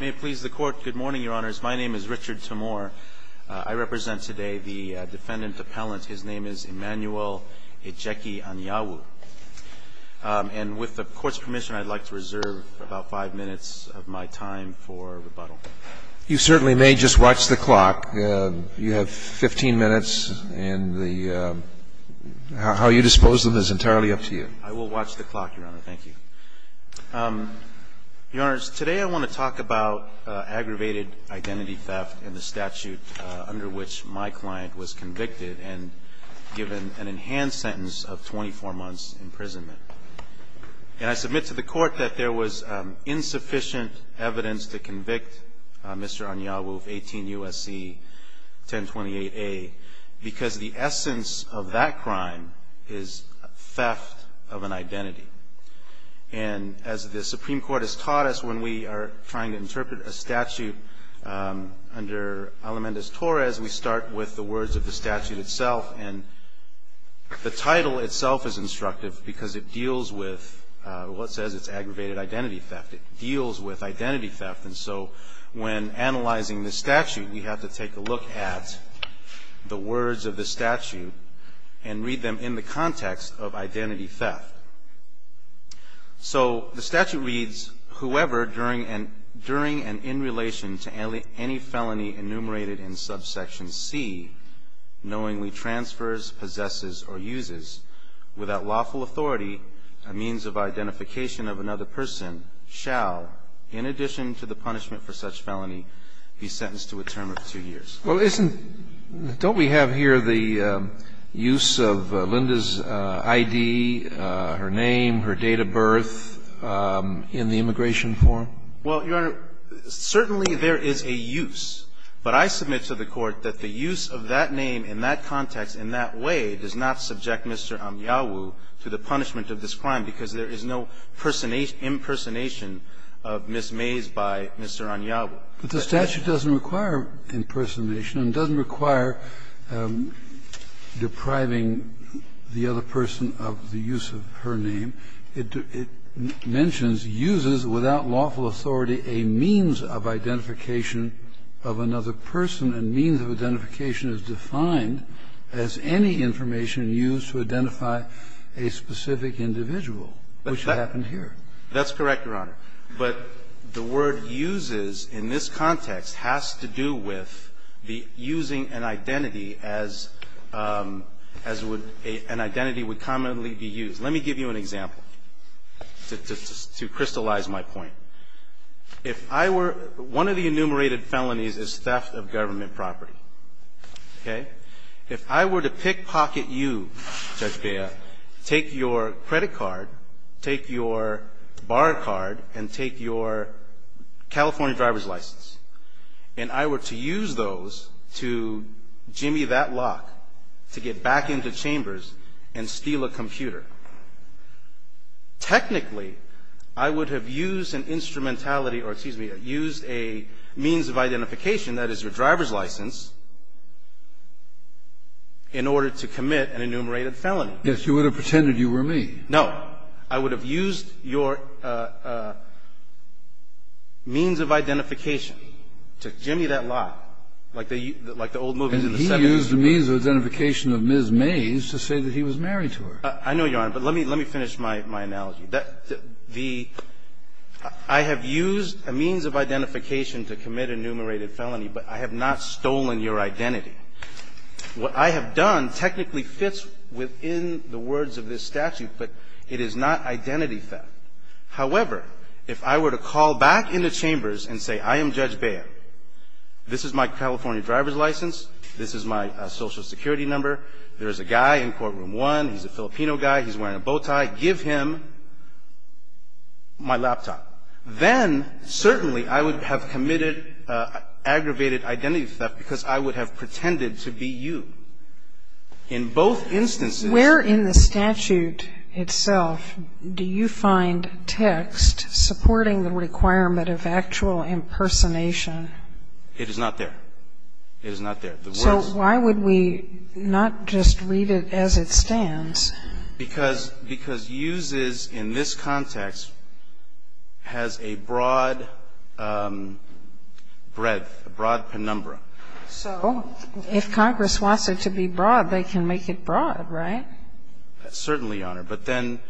May it please the court, good morning, your honors. My name is Richard Timor. I represent today the defendant appellant. His name is Emmanuel Ejeki Anyanwu. And with the court's permission, I'd like to reserve about five minutes of my time for rebuttal. You certainly may just watch the clock. You have 15 minutes, and how you dispose of them is entirely up to you. I will watch the clock, your honor. Thank you. Your honors, today I want to talk about aggravated identity theft and the statute under which my client was convicted and given an enhanced sentence of 24 months' imprisonment. And I submit to the court that there was insufficient evidence to convict Mr. Anyanwu of 18 U.S.C. 1028A because the essence of that crime is theft of an identity. And as the Supreme Court has taught us when we are trying to interpret a statute under Alameda's Torres, we start with the words of the statute itself. And the title itself is instructive because it deals with what says it's aggravated identity theft. It deals with identity theft. And so when analyzing the statute, we have to take a look at the words of the statute and read them in the context of identity theft. So the statute reads, whoever during and in relation to any felony enumerated in subsection C, knowingly transfers, possesses, or uses without lawful authority a means of identification of another person shall, in addition to the punishment for such felony, be sentenced to a term of two years. Well, isn't – don't we have here the use of Linda's I.D., her name, her date of birth in the immigration form? Well, Your Honor, certainly there is a use, but I submit to the Court that the use of that name in that context in that way does not subject Mr. Anyawu to the punishment of this crime because there is no impersonation of Ms. Mays by Mr. Anyawu. But the statute doesn't require impersonation and doesn't require depriving the other person of the use of her name. And it mentions uses without lawful authority a means of identification of another person, and means of identification is defined as any information used to identify a specific individual, which happened here. That's correct, Your Honor. But the word uses in this context has to do with the using an identity as – as would – an identity would commonly be used. Let me give you an example to crystallize my point. If I were – one of the enumerated felonies is theft of government property, okay? If I were to pickpocket you, Judge Bea, take your credit card, take your bar card, and take your California driver's license, and I were to use those to jimmy that lock, to get back into chambers and steal a computer, technically, I would have used an instrumentality or, excuse me, used a means of identification, that is, your driver's license, in order to commit an enumerated felony. Yes, you would have pretended you were me. No. I would have used your means of identification to jimmy that lock, like the – like the old movies in the 70s. You would have used a means of identification of Ms. Mays to say that he was married to her. I know, Your Honor, but let me – let me finish my – my analogy. The – I have used a means of identification to commit enumerated felony, but I have not stolen your identity. What I have done technically fits within the words of this statute, but it is not identity theft. However, if I were to call back into chambers and say, I am Judge Bea, this is my California driver's license, this is my Social Security number, there is a guy in courtroom one, he's a Filipino guy, he's wearing a bow tie, give him my laptop, then certainly I would have committed aggravated identity theft because I would have pretended to be you. In both instances – Where in the statute itself do you find text supporting the requirement of actual impersonation? It is not there. It is not there. The words – So why would we not just read it as it stands? Because – because uses in this context has a broad breadth, a broad penumbra. So if Congress wants it to be broad, they can make it broad, right? Certainly, Your Honor. But then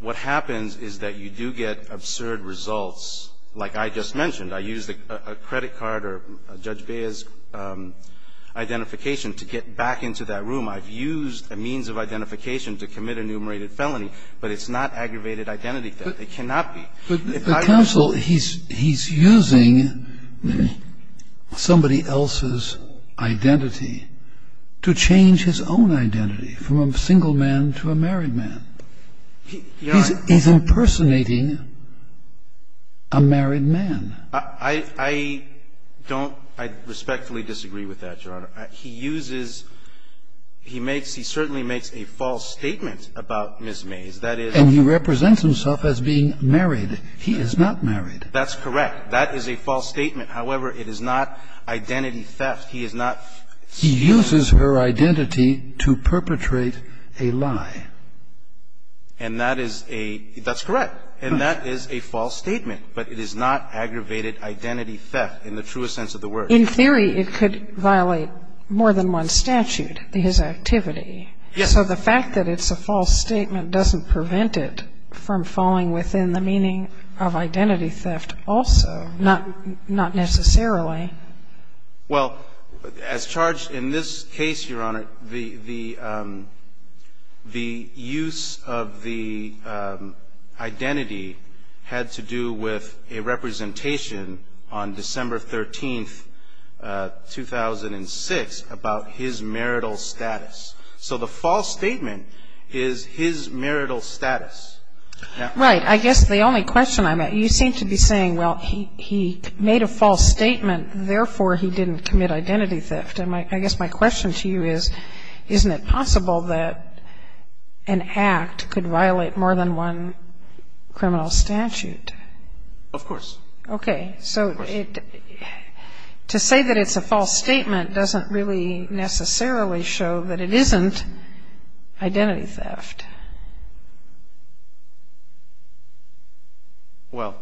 what happens is that you do get absurd results, like I just mentioned. I used a credit card or Judge Bea's identification to get back into that room. I've used a means of identification to commit enumerated felony, but it's not aggravated identity theft. If I were to say – But, counsel, he's using somebody else's identity to change his own identity from a single man to a married man. He's impersonating a married man. I don't – I respectfully disagree with that, Your Honor. He uses – he makes – he certainly makes a false statement about Ms. Mays. That is – And he represents himself as being married. He is not married. That's correct. That is a false statement. However, it is not identity theft. He is not – He uses her identity to perpetrate a lie. And that is a – that's correct. And that is a false statement. But it is not aggravated identity theft in the truest sense of the word. In theory, it could violate more than one statute, his activity. Yes. So the fact that it's a false statement doesn't prevent it from falling within the meaning of identity theft also, not necessarily. Well, as charged in this case, Your Honor, the use of the identity had to do with a representation on December 13th, 2006 about his marital status. So the false statement is his marital status. Right. I guess the only question I'm – you seem to be saying, well, he made a false statement, therefore, he didn't commit identity theft. And I guess my question to you is, isn't it possible that an act could violate more than one criminal statute? Of course. Okay. So it – to say that it's a false statement doesn't really necessarily show that it isn't identity theft. Well,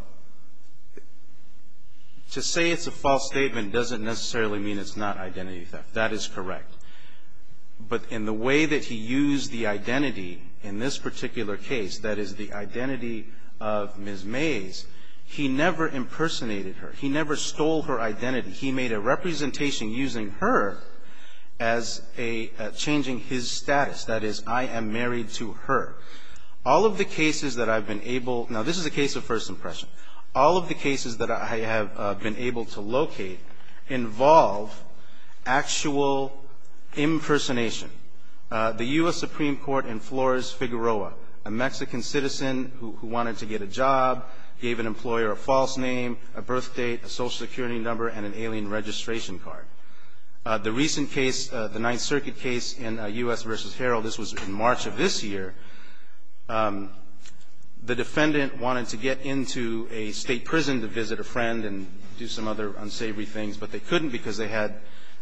to say it's a false statement doesn't necessarily mean it's not identity theft. That is correct. But in the way that he used the identity in this particular case, that is, the identity of Ms. Mays, he never impersonated her. He never stole her identity. He made a representation using her as a – changing his status. That is, I am married to her. All of the cases that I've been able – now, this is a case of first impression. All of the cases that I have been able to locate involve actual impersonation. The U.S. Supreme Court inflores Figueroa, a Mexican citizen who wanted to get a job, gave an employer a false name, a birth date, a social security number, and an alien registration card. The recent case, the Ninth Circuit case in U.S. v. Herald, this was in March of this year. The defendant wanted to get into a state prison to visit a friend and do some other unsavory things, but they couldn't because they had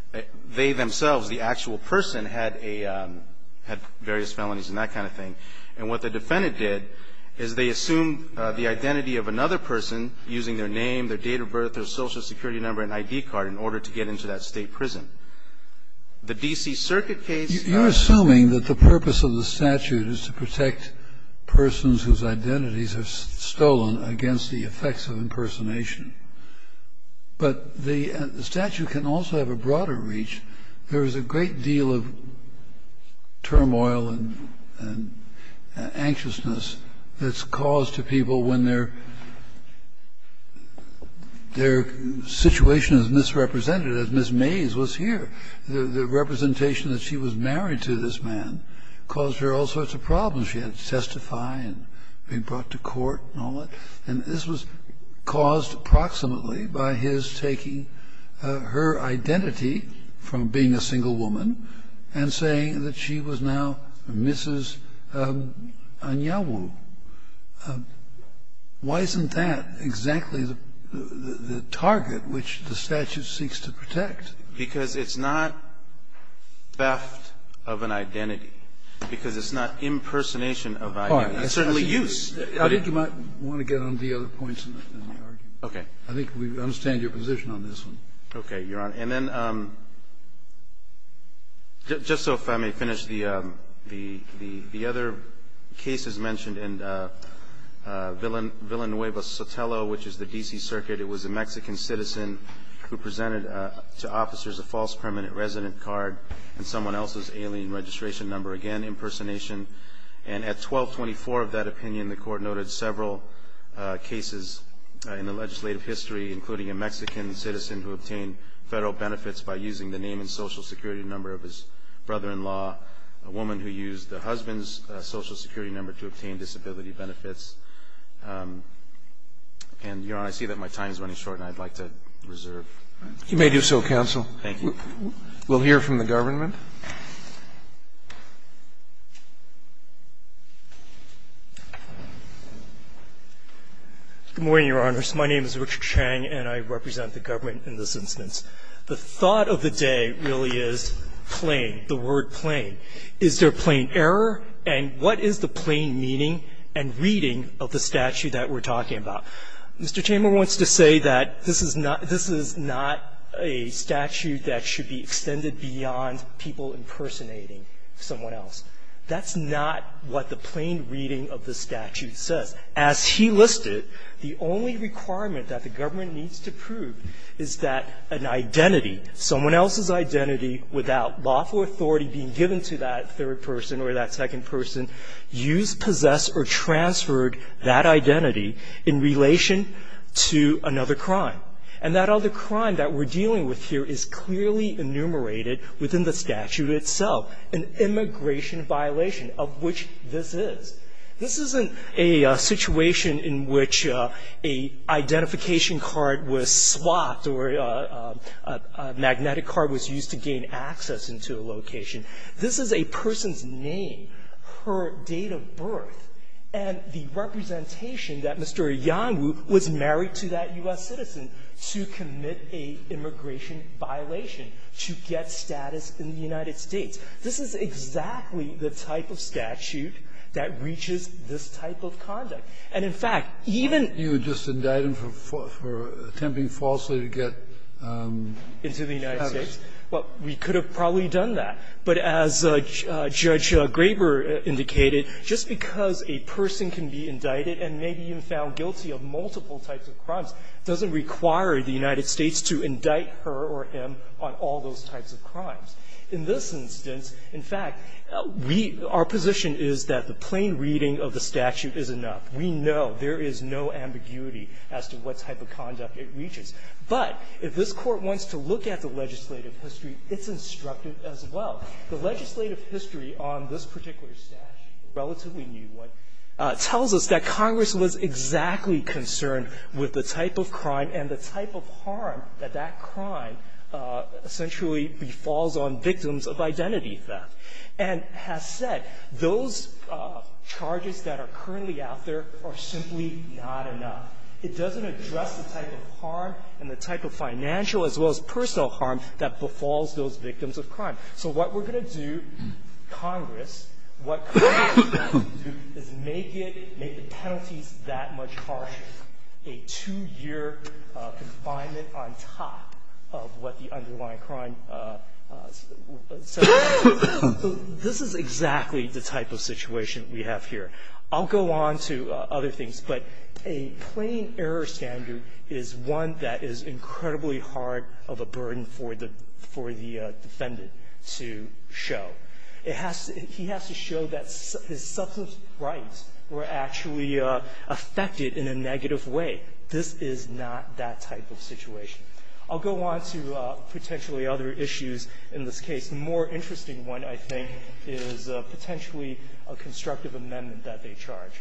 – they themselves, the actual person, had a – had various felonies and that kind of thing. And what the defendant did is they assumed the identity of another person using their name, their date of birth, their social security number, and ID card in order to get into that state prison. The D.C. Circuit case – You're assuming that the purpose of the statute is to protect persons whose identities are stolen against the effects of impersonation. But the statute can also have a broader reach. There is a great deal of turmoil and anxiousness that's caused to people when their – their situation is misrepresented, as Ms. Mays was here. The representation that she was married to this man caused her all sorts of problems. She had to testify and be brought to court and all that. And this was caused approximately by his taking her identity from being a single woman and saying that she was now Mrs. Anyawu. Why isn't that exactly the target which the statute seeks to protect? Because it's not theft of an identity, because it's not impersonation of an identity. It's certainly use. I think you might want to get on to the other points in the argument. Okay. I think we understand your position on this one. Okay, Your Honor. And then, just so if I may finish, the other cases mentioned in Villanueva Sotelo, which is the D.C. Circuit, it was a Mexican citizen who presented to officers a false permanent resident card and someone else's alien registration number. Again, impersonation. And at 1224 of that opinion, the court noted several cases in the legislative history, including a Mexican citizen who obtained federal benefits by using the name and social security number of his brother-in-law, a woman who used the husband's social security number to obtain disability benefits. And, Your Honor, I see that my time is running short and I'd like to reserve. You may do so, counsel. Thank you. We'll hear from the government. Good morning, Your Honors. My name is Richard Chang, and I represent the government in this instance. The thought of the day really is plain, the word plain. Is there plain error? And what is the plain meaning and reading of the statute that we're talking about? Mr. Chamberlain wants to say that this is not a statute that should be extended beyond people impersonating someone else. That's not what the plain reading of the statute says. As he listed, the only requirement that the government needs to prove is that an identity, someone else's identity, without lawful authority being given to that third person or that second person, used, possessed, or transferred that identity in relation to another crime. And that other crime that we're dealing with here is clearly enumerated within the statute itself, an immigration violation of which this is. This isn't a situation in which a identification card was swapped or a magnetic card was used to gain access into a location. This is a person's name, her date of birth, and the representation that Mr. Yangwu was married to that U.S. citizen to commit a immigration violation to get status in the United States. This is exactly the type of statute that reaches this type of conduct. And, in fact, even you would just indict him for attempting falsely to get into the United States. Well, we could have probably done that. But as Judge Graber indicated, just because a person can be indicted and may be found guilty of multiple types of crimes doesn't require the United States to indict her or him on all those types of crimes. In this instance, in fact, we – our position is that the plain reading of the statute is enough. We know there is no ambiguity as to what type of conduct it reaches. But if this Court wants to look at the legislative history, it's instructive as well. The legislative history on this particular statute, a relatively new one, tells us that Congress was exactly concerned with the type of crime and the type of harm that that crime essentially befalls on victims of identity theft, and has said those charges that are currently out there are simply not enough. It doesn't address the type of harm and the type of financial as well as personal harm that befalls those victims of crime. So what we're going to do, Congress, what Congress is going to do is make it – make the penalties that much harsher, a two-year confinement on top of what the underlying crime – so this is exactly the type of situation we have here. I'll go on to other things, but a plain error standard is one that is incredibly hard of a burden for the – for the defendant to show. It has to – he has to show that his substance rights were actually affected in a negative way. This is not that type of situation. I'll go on to potentially other issues in this case. The more interesting one, I think, is potentially a constructive amendment that they charge.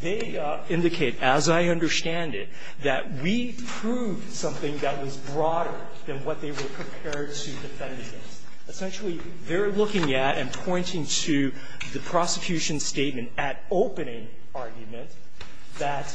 They indicate, as I understand it, that we proved something that was broader than what they were prepared to defend against. Essentially, they're looking at and pointing to the prosecution's statement at opening argument that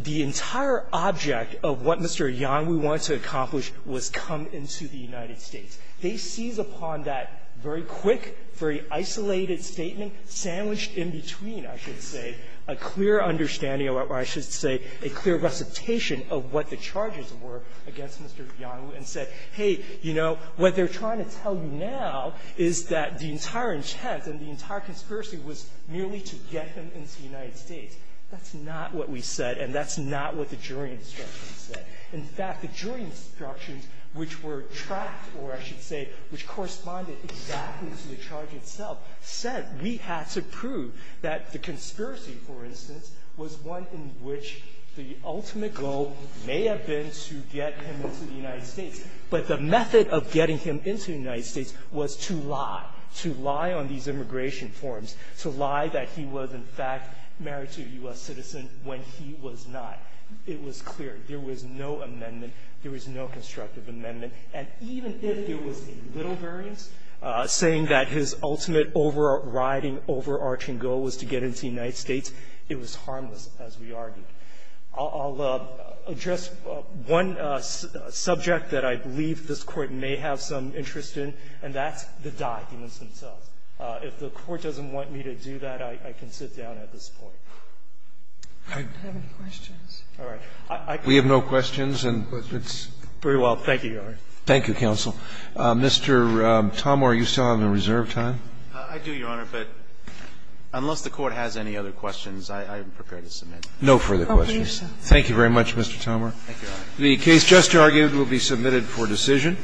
the entire object of what Mr. Yang, we wanted to accomplish, was come into the United States. They seize upon that very quick, very isolated statement, sandwiched in between, I should say, a clear understanding or, I should say, a clear recitation of what the charges were against Mr. Yang and said, hey, you know, what they're trying to tell you now is that the entire intent and the entire conspiracy was merely to get him into the United States. That's not what we said, and that's not what the jury instructions said. In fact, the jury instructions, which were tracked or, I should say, which corresponded exactly to the charge itself, said we had to prove that the conspiracy, for instance, was one in which the ultimate goal may have been to get him into the United States, but the method of getting him into the United States was to lie, to lie on these immigration forms, to lie that he was, in fact, married to a U.S. citizen when he was not. It was clear. There was no amendment. There was no constructive amendment. And even if there was a little variance, saying that his ultimate overriding, overarching goal was to get into the United States, it was harmless, as we argued. I'll address one subject that I believe this Court may have some interest in, and that's the documents themselves. If the Court doesn't want me to do that, I can sit down at this point. Sotomayor, I don't have any questions. Gershengorn We have no questions, and it's very well. Thank you, Your Honor. Thank you, counsel. Mr. Tomar, you still have a reserve time. I do, Your Honor, but unless the Court has any other questions, I am prepared to submit. No further questions. Thank you very much, Mr. Tomar. The case just argued will be submitted for decision.